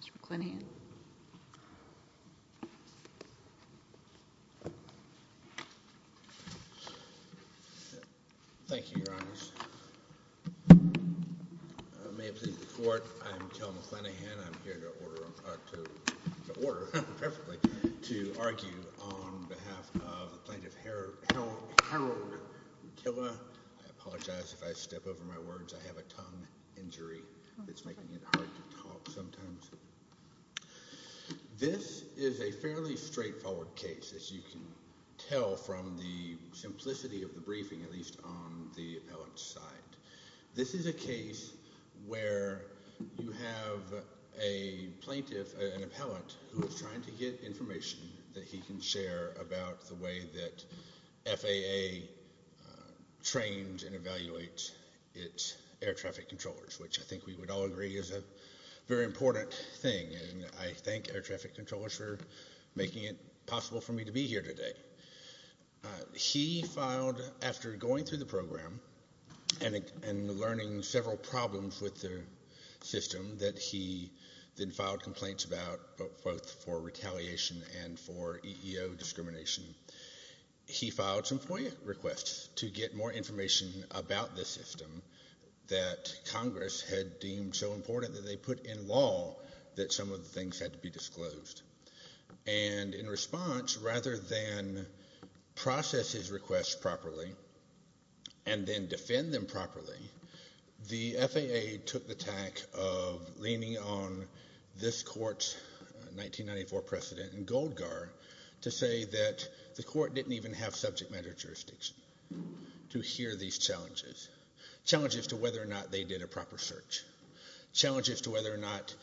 Mr. McClennahan. Thank you, Your Honors. May it please the Court, I am Joe McClennahan. I'm here to order, perfectly, to argue on behalf of Plaintiff Harold Nutila. I apologize if I step over my words. I have a tongue injury. It's making it hard to talk sometimes. This is a fairly straightforward case, as you can tell from the simplicity of the briefing, at least on the appellant's side. This is a case where you have a plaintiff, an appellant, who is trying to get information that he can share about the way that FAA trains and evaluates its air traffic controllers, which I think we would all agree is a very important thing. I thank air traffic controllers for making it possible for me to be here today. He filed, after going through the program and learning several problems with the system that he then filed complaints about, both for retaliation and for EEO discrimination, he filed some FOIA requests to get more information about the system that Congress had deemed so important that they put in law that some of the things had to be disclosed. And in response, rather than process his requests properly and then defend them properly, the FAA took the tack of leaning on this Court's 1994 precedent in Goldgar to say that the Court didn't even have subject matter jurisdiction to hear these challenges. Challenges to whether or not they did a proper search. Challenges to whether or not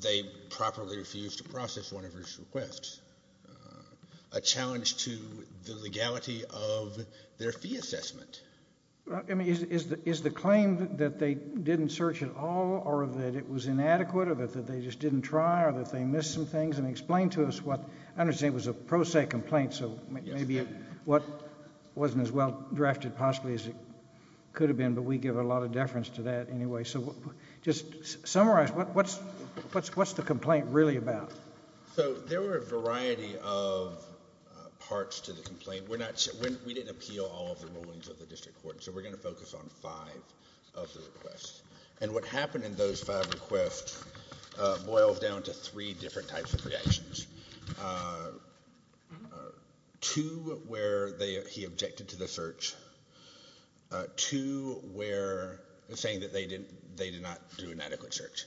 they properly refused to process one of his requests. A challenge to the legality of their fee assessment. I mean, is the claim that they didn't search at all or that it was inadequate or that they just didn't try or that they missed some things, and explain to us what, I understand it was a pro se complaint, so maybe it wasn't as well drafted possibly as it could have been, but we give a lot of deference to that anyway. So just summarize, what's the complaint really about? So there were a variety of parts to the complaint. We didn't appeal all of the rulings of the district court, so we're going to focus on five of the requests. And what happened in those five requests boils down to three different types of reactions. Two where he objected to the search. Two where he was saying that they did not do an adequate search.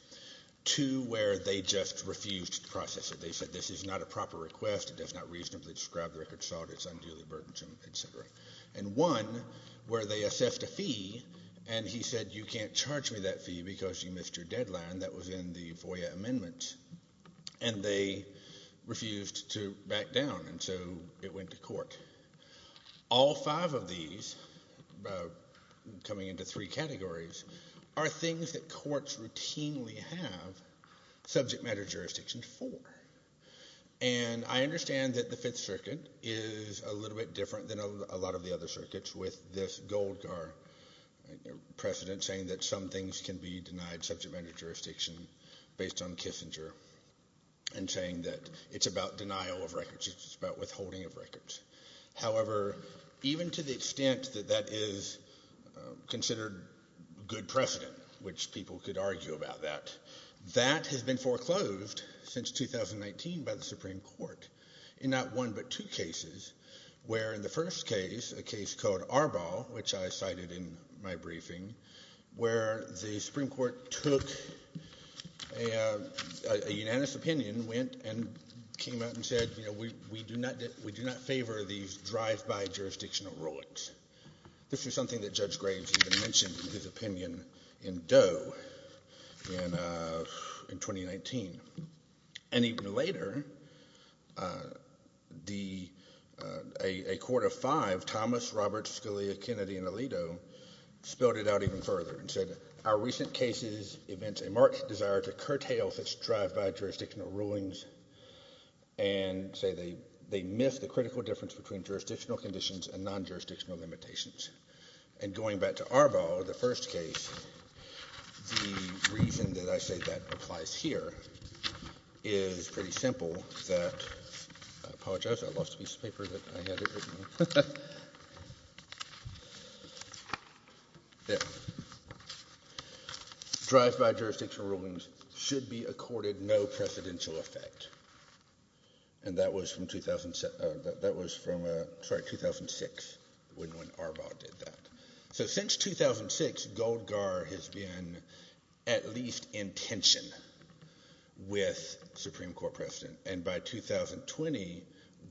Two where they just refused to process it. They said this is not a proper request, it does not reasonably describe the record, it's unduly burdensome, et cetera. And one where they assessed a fee and he said you can't charge me that fee because you missed your deadline, that was in the FOIA amendment. And they refused to back down, and so it went to court. All five of these, coming into three categories, are things that courts routinely have subject matter jurisdictions for. And I understand that the Fifth Circuit is a little bit different than a lot of the other circuits with this Gold Car precedent saying that some things can be denied subject matter jurisdiction based on Kissinger, and saying that it's about denial of records, it's about withholding of records. However, even to the extent that that is considered good precedent, which people could argue about that, that has been foreclosed since 2019 by the Supreme Court in not one but two cases, where in the first case, a case called Arbol, which I cited in my briefing, where the Supreme Court took a unanimous opinion, went and came out and said we do not favor these drive-by jurisdictional rulings. This was something that Judge Graves even mentioned in his opinion in Doe in 2019. And even later, a court of five, Thomas, Roberts, Scalia, Kennedy, and Alito spelled it out even further and said our recent case is a marked desire to curtail this drive-by jurisdictional rulings, and say they miss the critical difference between jurisdictional conditions and non-jurisdictional limitations. And going back to Arbol, the first case, the reason that I say that applies here is pretty simple, that, I apologize, I lost a piece of paper that I had written. Drive-by jurisdictional rulings should be accorded no precedential effect. And that was from 2006, when Arbol did that. So since 2006, Goldgar has been at least in tension with Supreme Court precedent. And by 2020,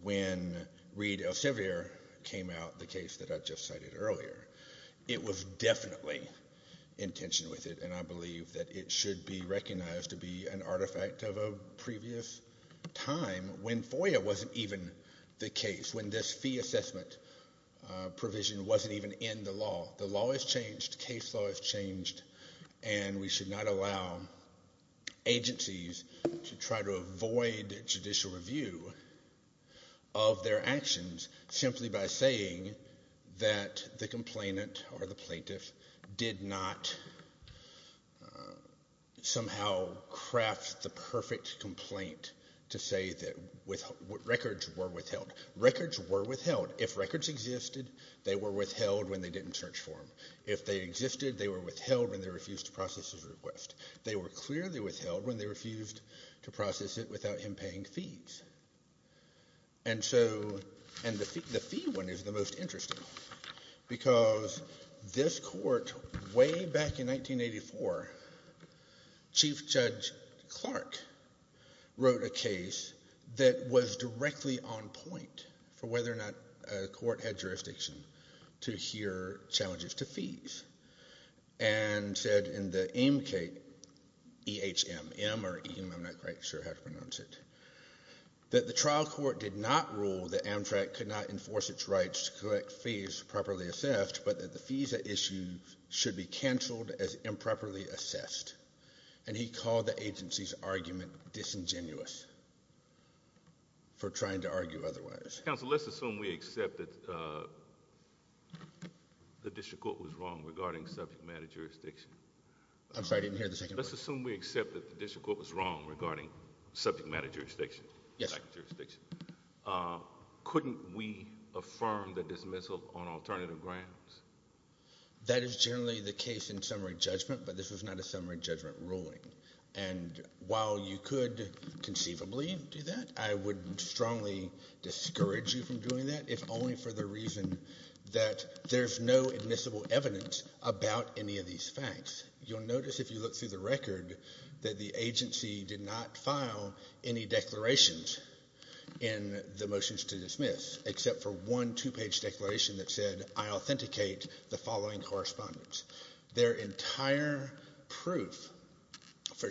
when Reid-Elsevier came out, the case that I just cited earlier, it was definitely in tension with it, and I believe that it should be recognized to be an artifact of a previous time when FOIA wasn't even the case, when this fee assessment provision wasn't even in the law. The law has changed, case law has changed, and we should not allow agencies to try to avoid judicial review of their actions simply by saying that the complainant or the plaintiff did not somehow craft the perfect complaint to say that records were withheld. Records were withheld. If records existed, they were withheld when they didn't search for them. If they existed, they were withheld when they refused to process his request. They were clearly withheld when they refused to process it without him paying fees. And so, and the fee one is the most interesting, because this court, way back in 1984, Chief Judge Clark wrote a case that was directly on point for whether or not a court had jurisdiction to hear challenges to fees, and said in the AIM-CATE, E-H-M, M or E-H-M, I'm not quite sure how to pronounce it, that the trial court did not rule that Amtrak could not enforce its rights to collect fees properly assessed, but that the fees at issue should be canceled as improperly assessed. And he called the agency's argument disingenuous for trying to argue otherwise. Counsel, let's assume we accept that the district court was wrong regarding subject matter jurisdiction. Yes. Couldn't we affirm the dismissal on alternative grounds? That is generally the case in summary judgment, but this was not a summary judgment ruling. And while you could conceivably do that, I would strongly discourage you from doing that, if only for the reason that there's no admissible evidence about any of these facts. You'll notice if you look through the record that the agency did not file any declarations in the motions to dismiss, except for one two-page declaration that said, I authenticate the following correspondence. Their entire proof for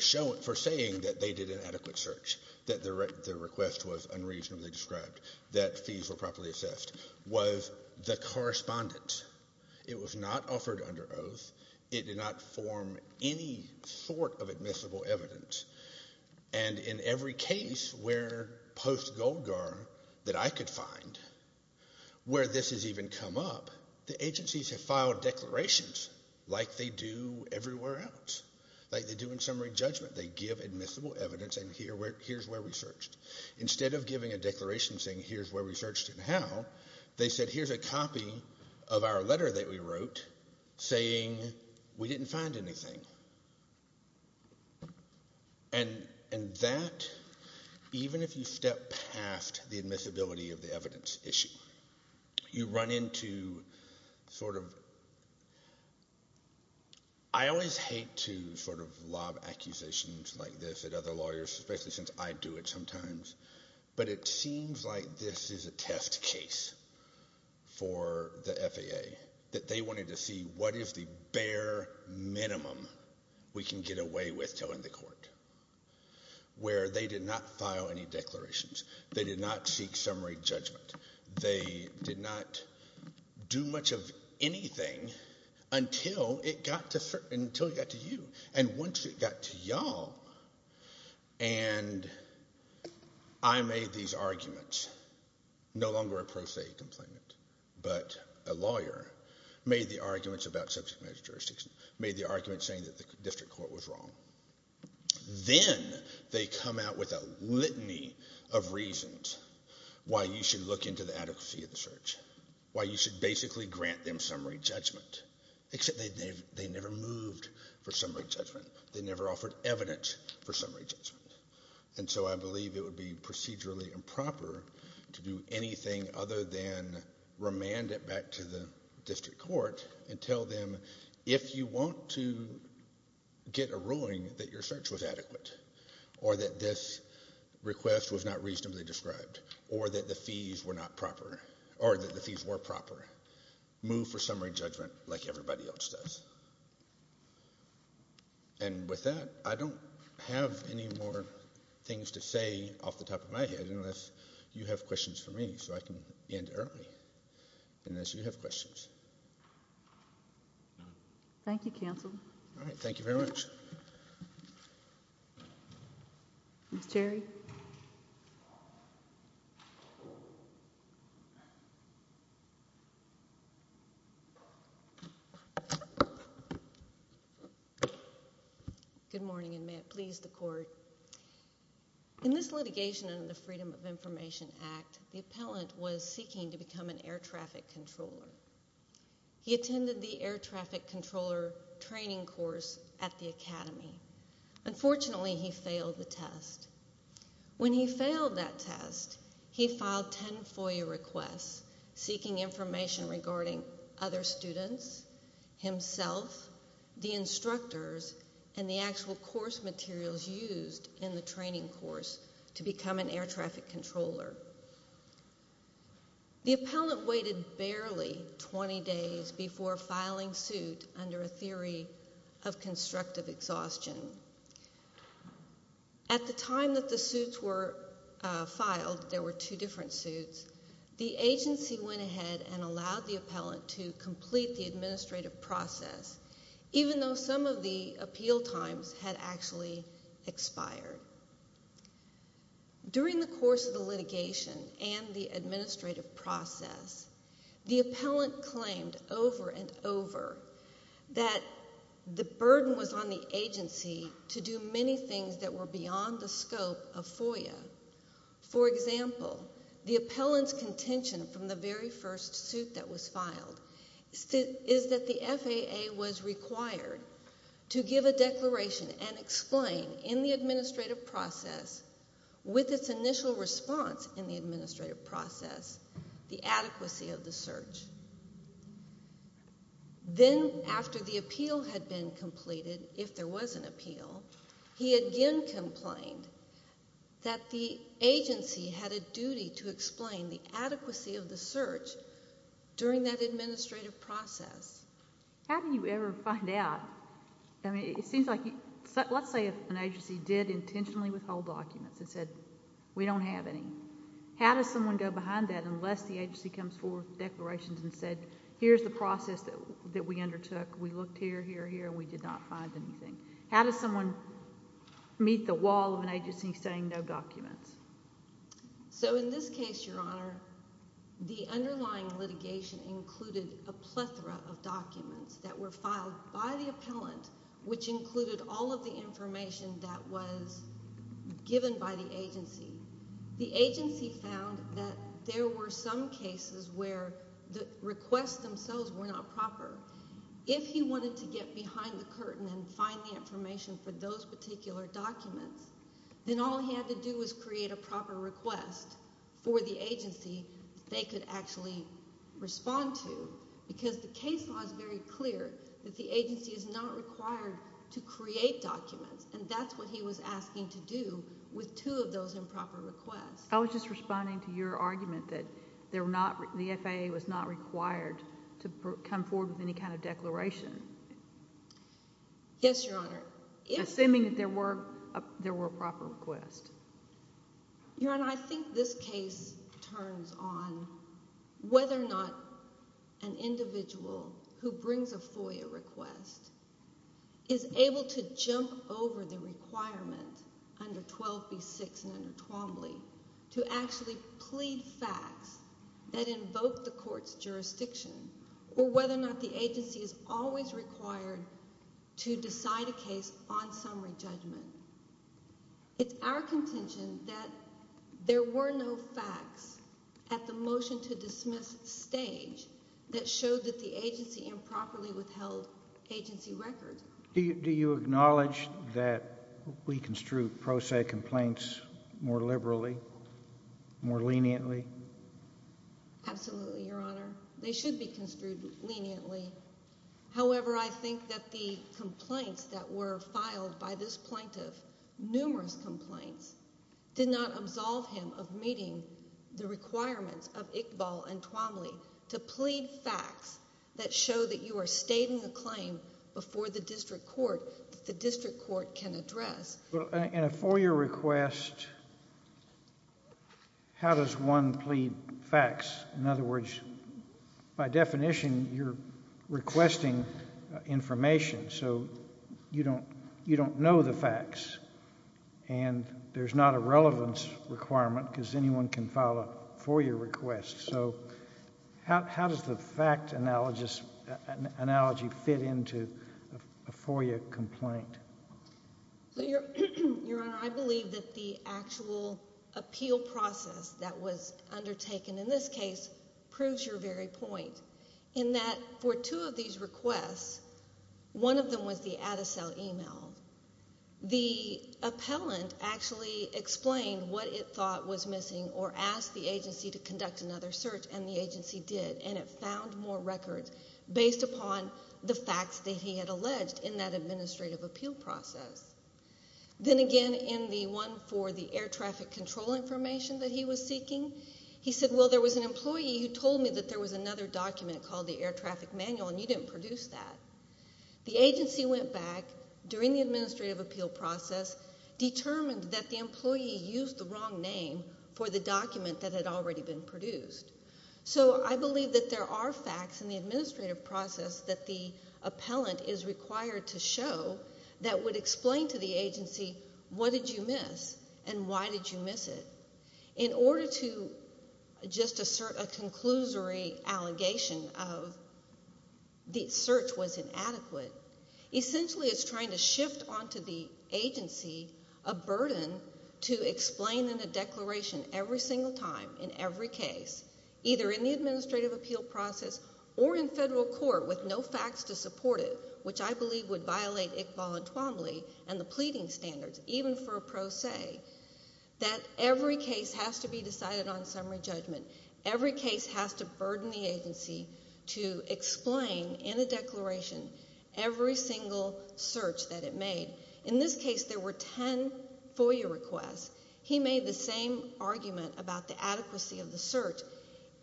saying that they did an adequate search, that the request was unreasonably described, that fees were properly assessed, was the correspondence. It was not offered under oath. It did not form any sort of admissible evidence. And in every case where post-Goldgar that I could find, where this has even come up, the agencies have filed declarations like they do everywhere else, like they do in summary judgment. They give admissible evidence and here's where we searched. Instead of giving a declaration saying here's where we searched and how, they said here's a copy of our letter that we wrote saying we didn't find anything. And that, even if you step past the admissibility of the evidence issue, you run into sort of I always hate to sort of lob accusations like this at other lawyers, especially since I do it sometimes. But it seems like this is a test case for the FAA, that they wanted to see what is the bare minimum we can get away with telling the court, where they did not file any declarations, they did not seek summary judgment, they did not do much of anything until it got to you. And once it got to y'all and I made these arguments, no longer a pro se complainant, but a lawyer, made the arguments about subject matter jurisdictions, made the arguments saying that the district court was wrong, then they come out with a litany of reasons why you should look into the adequacy of the search, why you should basically grant them summary judgment, except they never moved for summary judgment. They never offered evidence for summary judgment. And so I believe it would be procedurally improper to do anything other than remand it back to the district court and tell them, if you want to get a ruling that your search was adequate, or that this request was not reasonably described, or that the fees were not proper, or that the fees were proper, move for summary judgment like everybody else does. And with that, I don't have any more things to say off the top of my head unless you have questions for me, so I can end early, unless you have questions. Thank you, counsel. All right, thank you very much. Ms. Cherry? Good morning, and may it please the court. In this litigation under the Freedom of Information Act, the appellant was seeking to become an air traffic controller. He attended the air traffic academy. Unfortunately, he failed the test. When he failed that test, he filed 10 FOIA requests seeking information regarding other students, himself, the instructors, and the actual course materials used in the training course to become an air traffic controller. The appellant waited barely 20 days before filing suit under a theory of constructive exhaustion. At the time that the suits were filed, there were two different suits, the agency went ahead and allowed the appellant to complete the administrative process, even though some of the appeal times had actually expired. During the course of the litigation, and the administrative process, the appellant claimed over and over that the burden was on the agency to do many things that were beyond the scope of FOIA. For example, the appellant's contention from the very first suit that was filed is that the FAA was required to give a declaration and explain, in the administrative process, with its initial response in the administrative process, the adequacy of the search. Then, after the appeal had been completed, if there was an appeal, he again complained that the agency had a duty to explain the adequacy of the search during that administrative process. How do you ever find out? I mean, it seems like, let's say if an agency did intentionally withhold documents and said, we don't have any. How does someone go behind that unless the agency comes forward with declarations and said, here's the process that we undertook, we looked here, here, here, we did not find anything. How does someone meet the wall of an agency saying no documents? In this case, Your Honor, the underlying litigation included a plethora of documents that were filed by the appellant, which included all of the information that was given by the agency. The agency found that there were some cases where the requests themselves were not proper. If he wanted to get behind the curtain and find the information for those particular documents, then all he had to do was create a proper request for the agency that they could actually respond to, because the case law is very clear that the agency is not required to create documents, and that's what he was asking to do with two of those improper requests. I was just responding to your argument that the FAA was not required to come forward with any kind of declaration. Yes, Your Honor. Assuming that there were a proper request. Your Honor, I think this case turns on whether or not an individual who brings a FOIA request is able to jump over the requirement under 12b-6 and under Twombly to actually plead facts that invoke the court's jurisdiction, or whether or not the agency is always required to decide a case on summary judgment. It's our contention that there were no facts at the motion-to-dismiss stage that showed that the agency improperly withheld agency records. Do you acknowledge that we construe pro se complaints more liberally, more leniently? Absolutely, Your Honor. They should be construed leniently. However, I think that the complaints that were filed by this plaintiff, numerous complaints, did not absolve him of meeting the requirements of Iqbal and Twombly to plead facts that show that you are stating a claim before the district court that the district court can address. In a FOIA request, how does one plead facts? In other words, by definition, you're requesting information, so you don't know the facts, and there's not a relevance requirement because anyone can file a FOIA request. How does the fact analogy fit into a FOIA complaint? Your Honor, I believe that the actual appeal process that was undertaken in this case proves your very point, in that for two of these requests, one of them was the Adacel email. The appellant actually explained what it thought was missing or asked the agency to conduct another search, and the agency did, and it found more records based upon the facts that he had alleged in that administrative appeal process. Then again, in the one for the air traffic control information that he was seeking, he said, well, there was an employee who told me that there was another document called the air traffic manual, and you didn't produce that. The agency went back during the administrative appeal process, determined that the employee used the wrong name for the document that had already been produced. So I believe that there are facts in the administrative process that the appellant is required to show that would explain to the agency what did you miss and why did you miss it. In order to just assert a conclusory allegation of the search was inadequate, essentially it's trying to shift onto the agency a burden to explain in a declaration every single time in every case, either in the administrative appeal process or in federal court with no facts to support it, which I believe would violate Iqbal and Twombly and the pleading standards, even for a pro se, that every case has to be decided on summary judgment. Every case has to burden the agency to explain in a declaration every single search that it made. In this case, there were ten FOIA requests. He made the same argument about the adequacy of the search,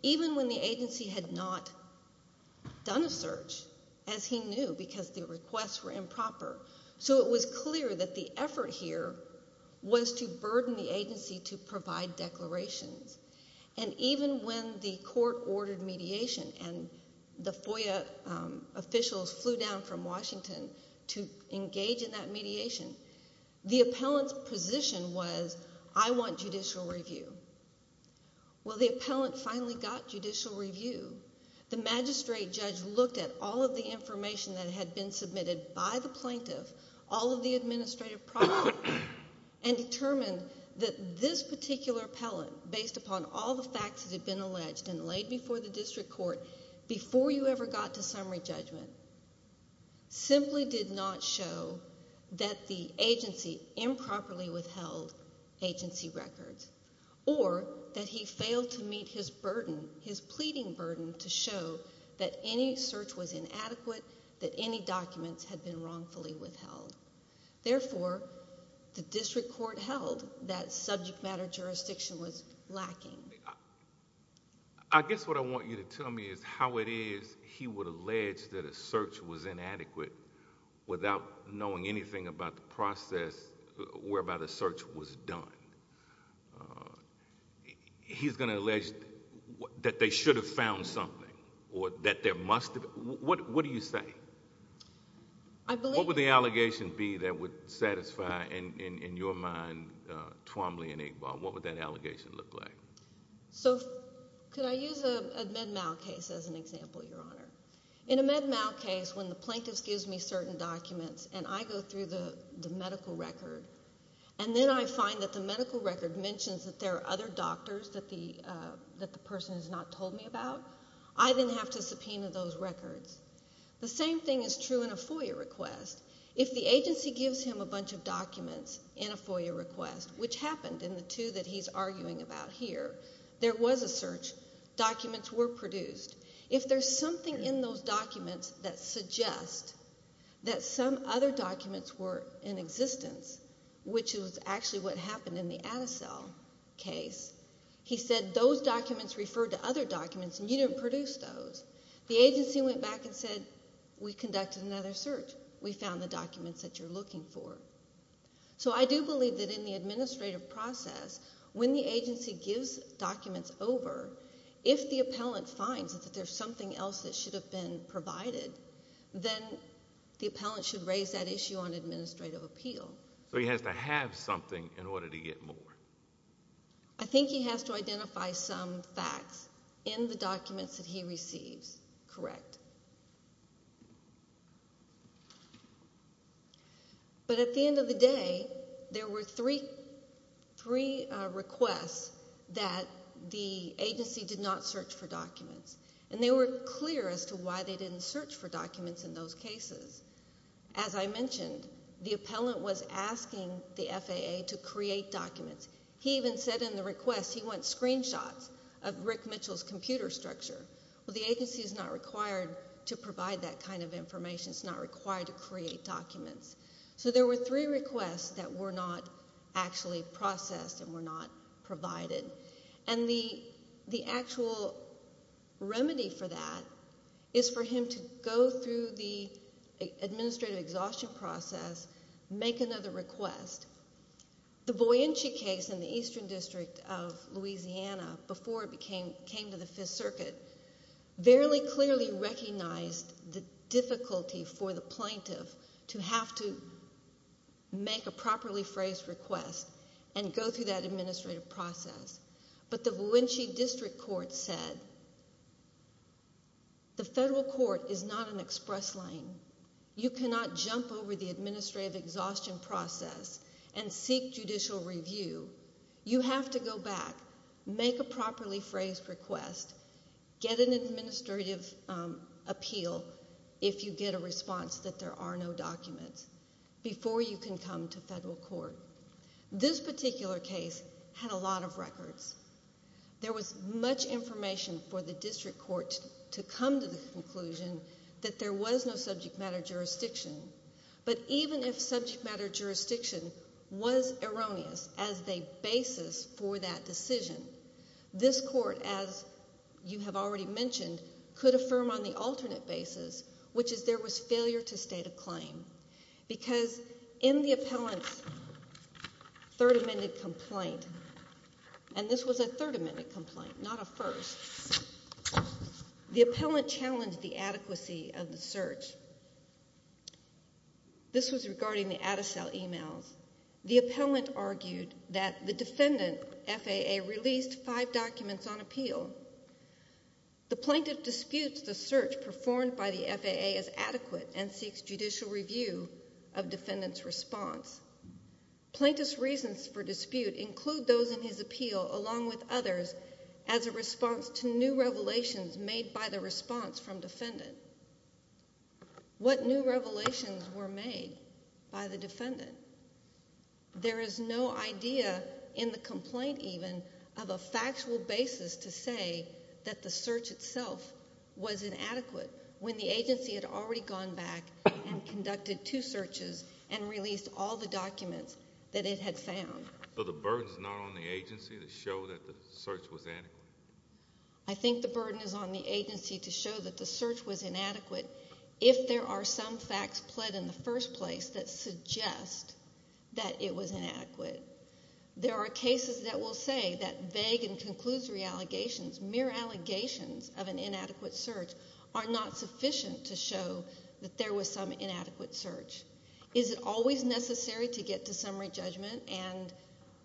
even when the agency had not done a search, as he knew, because the requests were improper. So it was clear that the effort here was to burden the agency to provide declarations. And even when the court ordered mediation and the FOIA officials flew down from Washington to engage in that mediation, the appellant's position was, I want judicial review. Well, when the appellant finally got judicial review, the magistrate judge looked at all of the information that had been submitted by the plaintiff, all of the administrative process, and determined that this particular appellant, based upon all the facts that had been alleged and laid before the district court before you ever got to summary judgment, simply did not show that the agency improperly withheld agency records, or that he failed to meet his burden, his pleading burden, to show that any search was inadequate, that any documents had been wrongfully withheld. Therefore, the district court held that subject matter jurisdiction was lacking. I guess what I want you to tell me is how it is he would allege that a search was inadequate without knowing anything about the process whereby the search was done. He's going to allege that they should have found something, or that there must have... What do you say? What would the allegation be that would satisfy, in your mind, Twombly and Iqbal? What would that allegation look like? Could I use a Med-Mal case as an example, Your Honor? In a Med-Mal case, when the plaintiff gives me certain documents, and I go through the medical record, and then I find that the person has not told me about, I then have to subpoena those records. The same thing is true in a FOIA request. If the agency gives him a bunch of documents in a FOIA request, which happened in the two that he's arguing about here, there was a search, documents were produced. If there's something in those documents that suggests that some other documents were in existence, which is actually what happened in the Adacel case, he said, those documents refer to other documents, and you didn't produce those. The agency went back and said, we conducted another search. We found the documents that you're looking for. So I do believe that in the administrative process, when the agency gives documents over, if the appellant finds that there's something else that should have been provided, then the appellant should raise that issue on administrative appeal. So he has to have something in order to get more. I think he has to identify some facts in the documents that he receives, correct. But at the end of the day, there were three requests that the agency did not search for documents, and they were clear as to why they didn't search for documents in those cases. As I mentioned, the appellant was asking the FAA to create documents. He even said in the request, he wants screenshots of Rick Mitchell's computer structure. Well, the agency is not required to provide that kind of information. It's not required to create documents. So there were three requests that were not actually processed and were not provided. And the actual remedy for that is for him to go through the administrative exhaustion process, make another request. The Boianchi case in the Eastern District of Louisiana, before it came to the Fifth Circuit, very clearly recognized the difficulty for the plaintiff to have to make a properly phrased request and go through that administrative process. But the Boianchi District Court said, the federal court is not an express lane. You cannot jump over the administrative exhaustion process and seek judicial review. You have to go back, make a properly phrased request, get an administrative appeal if you get a response that there are no documents, before you can come to federal court. This particular case had a lot of records. There was much information for the district court to come to the conclusion that there was no subject matter jurisdiction. But even if subject matter jurisdiction was erroneous as a basis for that decision, this court, as you have already there was failure to state a claim. Because in the appellant's third amended complaint, and this was a third amended complaint, not a first, the appellant challenged the adequacy of the search. This was regarding the Adacel emails. The appellant argued that the defendant, FAA, released five documents on appeal. The plaintiff disputes the search performed by the FAA as adequate and seeks judicial review of defendant's response. Plaintiff's reasons for dispute include those in his appeal along with others as a response to new revelations made by the response from defendant. What new revelations were made by the defendant? There is no idea in the complaint even of a factual basis to say that the search itself was inadequate when the agency had already gone back and conducted two searches and released all the documents that it had found. So the burden is not on the agency to show that the search was adequate? I think the burden is on the agency to show that the search was inadequate. If there are some facts pled in the first place that suggest that it was inadequate, there are cases that will say that vague and conclusory allegations, mere allegations of an inadequate search, are not sufficient to show that there was some inadequate search. Is it always necessary to get to summary judgment and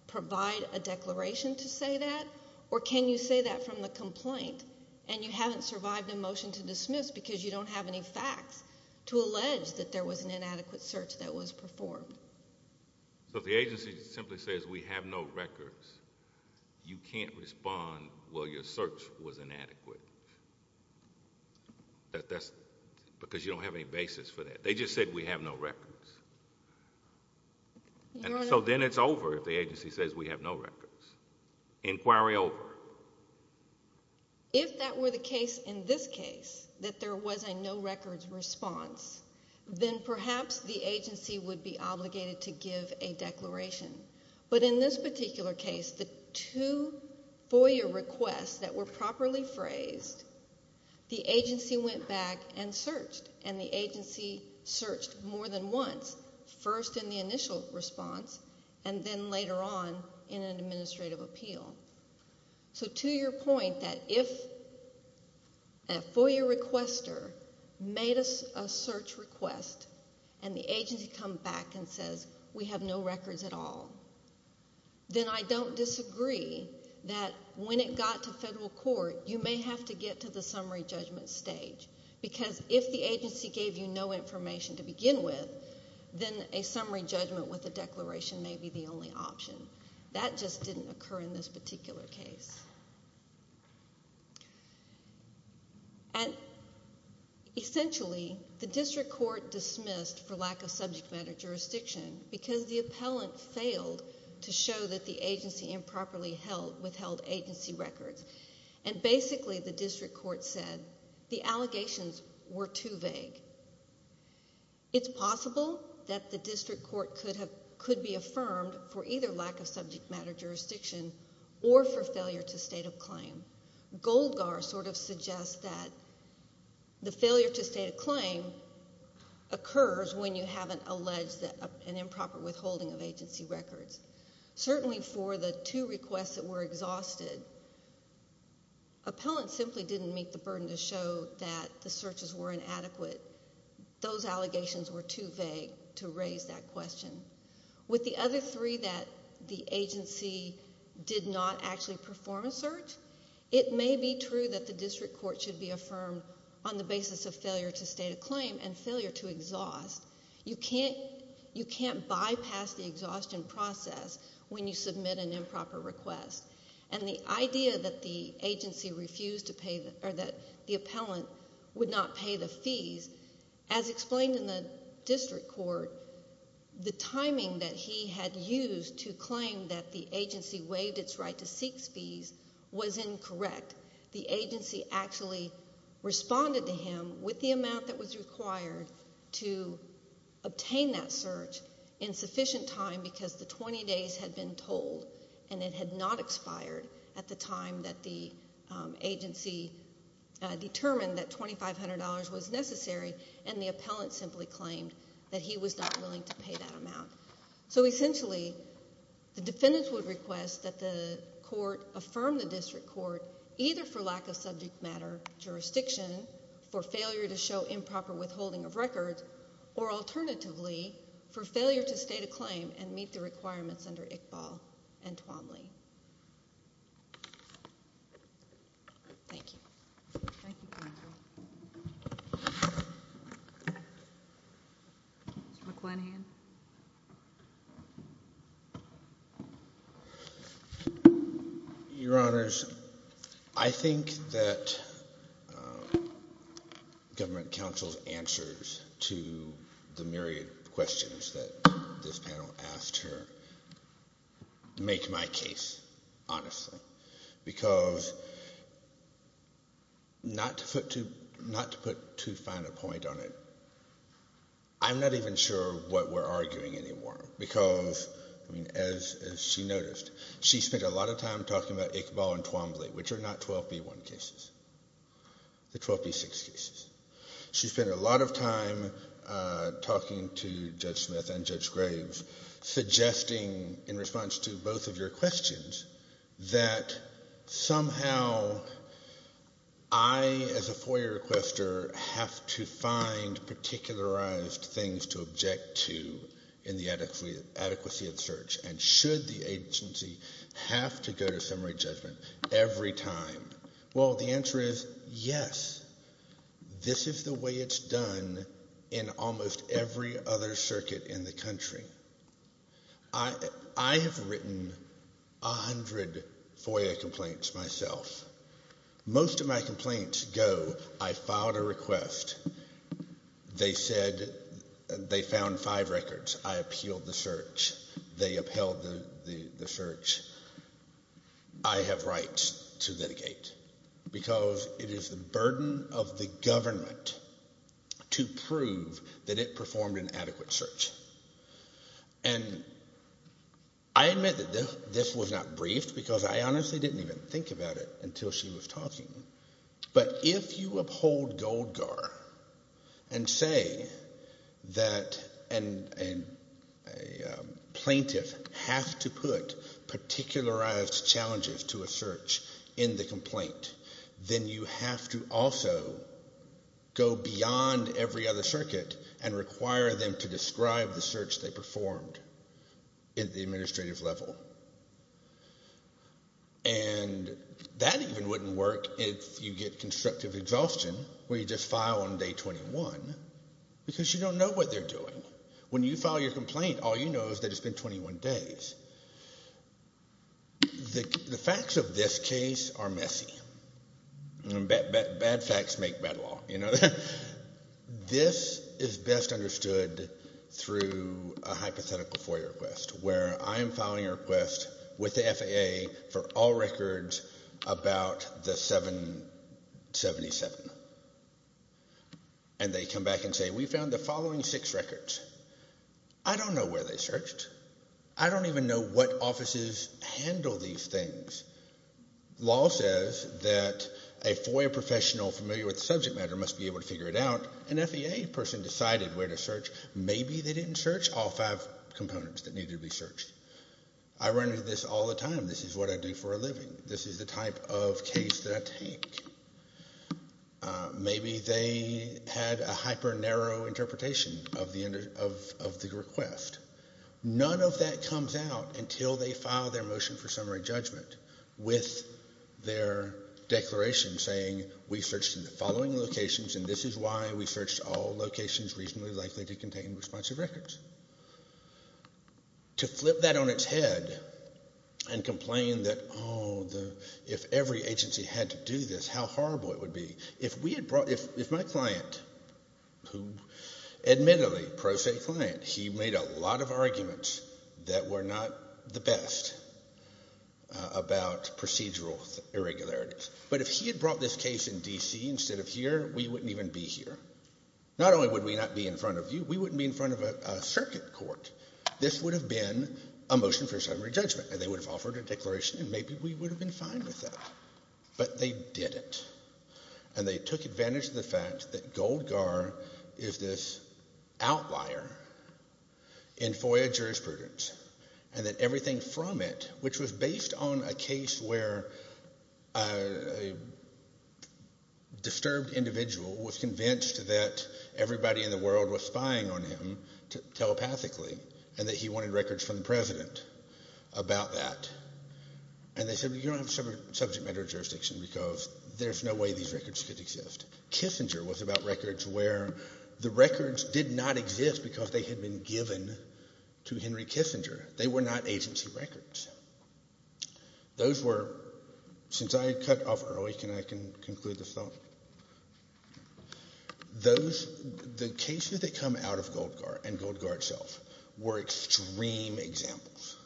provide a declaration to say that? Or can you say that from the complaint and you haven't survived a motion to dismiss because you don't have any facts to allege that there was an inadequate search that was performed? So if the agency simply says we have no records, you can't respond, well, your search was inadequate. That's because you don't have any basis for that. They just said we have no records. So then it's over if the agency says we have no records. Inquiry over. If that were the case in this case, that there was a no records response, then perhaps the agency would be obligated to give a declaration. But in this particular case, the two FOIA requests that were properly phrased, the agency went back and searched. And the agency searched more than once, first in the initial response and then later on in an administrative appeal. So to your point that if a FOIA requester made a search request and the agency comes back and says we have no records at all, then I don't disagree that when it got to federal court, you may have to get to the summary judgment stage. Because if the agency gave you no information to begin with, then a summary judgment with a declaration may be the only option. That just didn't occur in this particular case. And essentially, the district court dismissed for lack of subject matter jurisdiction because the appellant failed to show that the agency improperly withheld agency records. And basically the district court said the allegations were too vague. It's possible that the district court could be affirmed for either lack of subject matter jurisdiction or for failure to state a claim. Goldgar sort of suggests that the failure to state a claim occurs when you haven't alleged an improper withholding of agency records. Certainly for the two requests that were exhausted, appellants simply didn't meet the burden to show that the searches were inadequate. Those allegations were too vague to raise that question. With the other three that the agency did not actually perform a search, it may be true that the district court should be affirmed on the basis of failure to state a claim and failure to exhaust. You can't bypass the exhaustion process when you submit an improper request. And the idea that the agency refused to pay or that the appellant would not pay the fees, as explained in the district court, the timing that he had used to claim that the agency waived its right to seek fees was incorrect. The agency actually responded to him with the amount that was required to obtain that search in sufficient time because the 20 days had been told and it had not expired at the time that the agency determined that $2,500 was necessary and the appellant simply claimed that he was not willing to pay that amount. So essentially, the defendant would request that the court affirm the district court either for lack of subject matter jurisdiction, for failure to show improper withholding of records, or alternatively, for failure to state a claim and meet the requirements under Iqbal and Twombly. Thank you. Thank you, counsel. Mr. McClenahan. Your Honors, I think that government counsel's answers to the myriad of questions that this panel asked here make my case, honestly, because not to put too fine a point on it, I'm not even sure what we're arguing anymore because, as she noticed, she spent a lot of time talking about Iqbal and Twombly, which are not 12B1 cases, the 12B6 cases. She spent a lot of time talking to Judge Smith and Judge Graves, suggesting in response to both of your questions that somehow I, as a FOIA requester, have to find particularized things to object to in the adequacy of search, and should the agency have to go to summary judgment every time? Well, the answer is yes. This is the way it's done in almost every other circuit in the country. I have written a hundred FOIA complaints myself. Most of my complaints go, I filed a request. They said they found five records. I appealed the search. They upheld the search. I have rights to litigate because it is the burden of the government to prove that it performed an adequate search. And I admit that this was not briefed because I honestly didn't even think about it until she was talking. But if you uphold Goldgar and say that a plaintiff has to put particularized challenges to a search in the complaint, then you have to also go beyond every other circuit and require them to describe the search they performed at the administrative level. And that even wouldn't work if you get constructive exhaustion where you just file on day 21 because you don't know what they're doing. When you file your complaint, all you know is that it's been 21 days. The facts of this case are messy. Bad facts make bad law. This is best understood through a hypothetical FOIA request where I am filing a request with the FAA for all records about the 777. And they come back and say, we found the following six records. I don't know where they searched. I don't even know what offices handle these things. Law says that a FOIA professional familiar with the subject matter must be able to figure it out. An FAA person decided where to search. Maybe they didn't search all five components that needed to be searched. I run into this all the time. This is what I do for a living. This is the type of case that I take. Maybe they had a hyper-narrow interpretation of the request. None of that comes out until they file their motion for summary judgment with their declaration saying we searched in the following locations and this is why we searched all locations reasonably likely to contain responsive records. To flip that on its head and complain that, oh, if every agency had to do this, how horrible it would be. If my client, who admittedly, pro se client, he made a lot of arguments that were not the best about procedural irregularities. But if he had brought this case in D.C. instead of here, we wouldn't even be here. Not only would we not be in front of you, we wouldn't be in front of a circuit court. This would have been a motion for summary judgment and they would have offered a declaration and maybe we would have been fine with that. But they didn't. And they took advantage of the fact that Goldgar is this outlier in FOIA jurisprudence and that everything from it, which was based on a case where a disturbed individual was convinced that everybody in the world was spying on him telepathically and that he wanted records from the president about that. And they said, you don't have subject matter jurisdiction because there's no way these records could exist. Kissinger was about records where the records did not exist because they had been given to Henry Kissinger. They were not agency records. Those were, since I cut off early, can I conclude this thought? Those, the cases that come out of Goldgar and Goldgar itself were extreme examples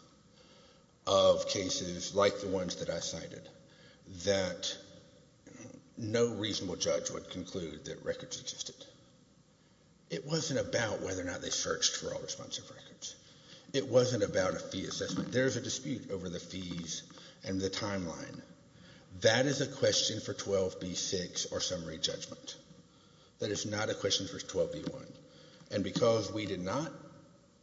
of cases like the ones that I cited that no reasonable judge would conclude that records existed. It wasn't about whether or not they searched for all responsive records. It wasn't about a fee assessment. There's a dispute over the fees and the timeline. That is a question for 12b-6 or summary judgment. That is not a question for 12b-1. And because we did not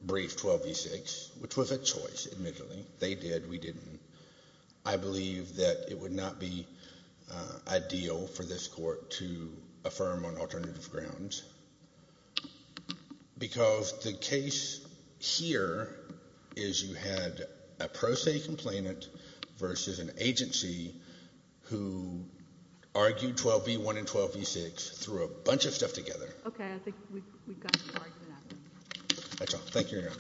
brief 12b-6, which was a choice, admittedly, they did, we didn't, I believe that it would not be ideal for this Court to affirm on alternative grounds because the case here is you had a pro se complainant versus an agency who argued 12b-1 and 12b-6 through a bunch of stuff together. Okay, I think we've gotten far enough. That's all. Thank you, Your Honor.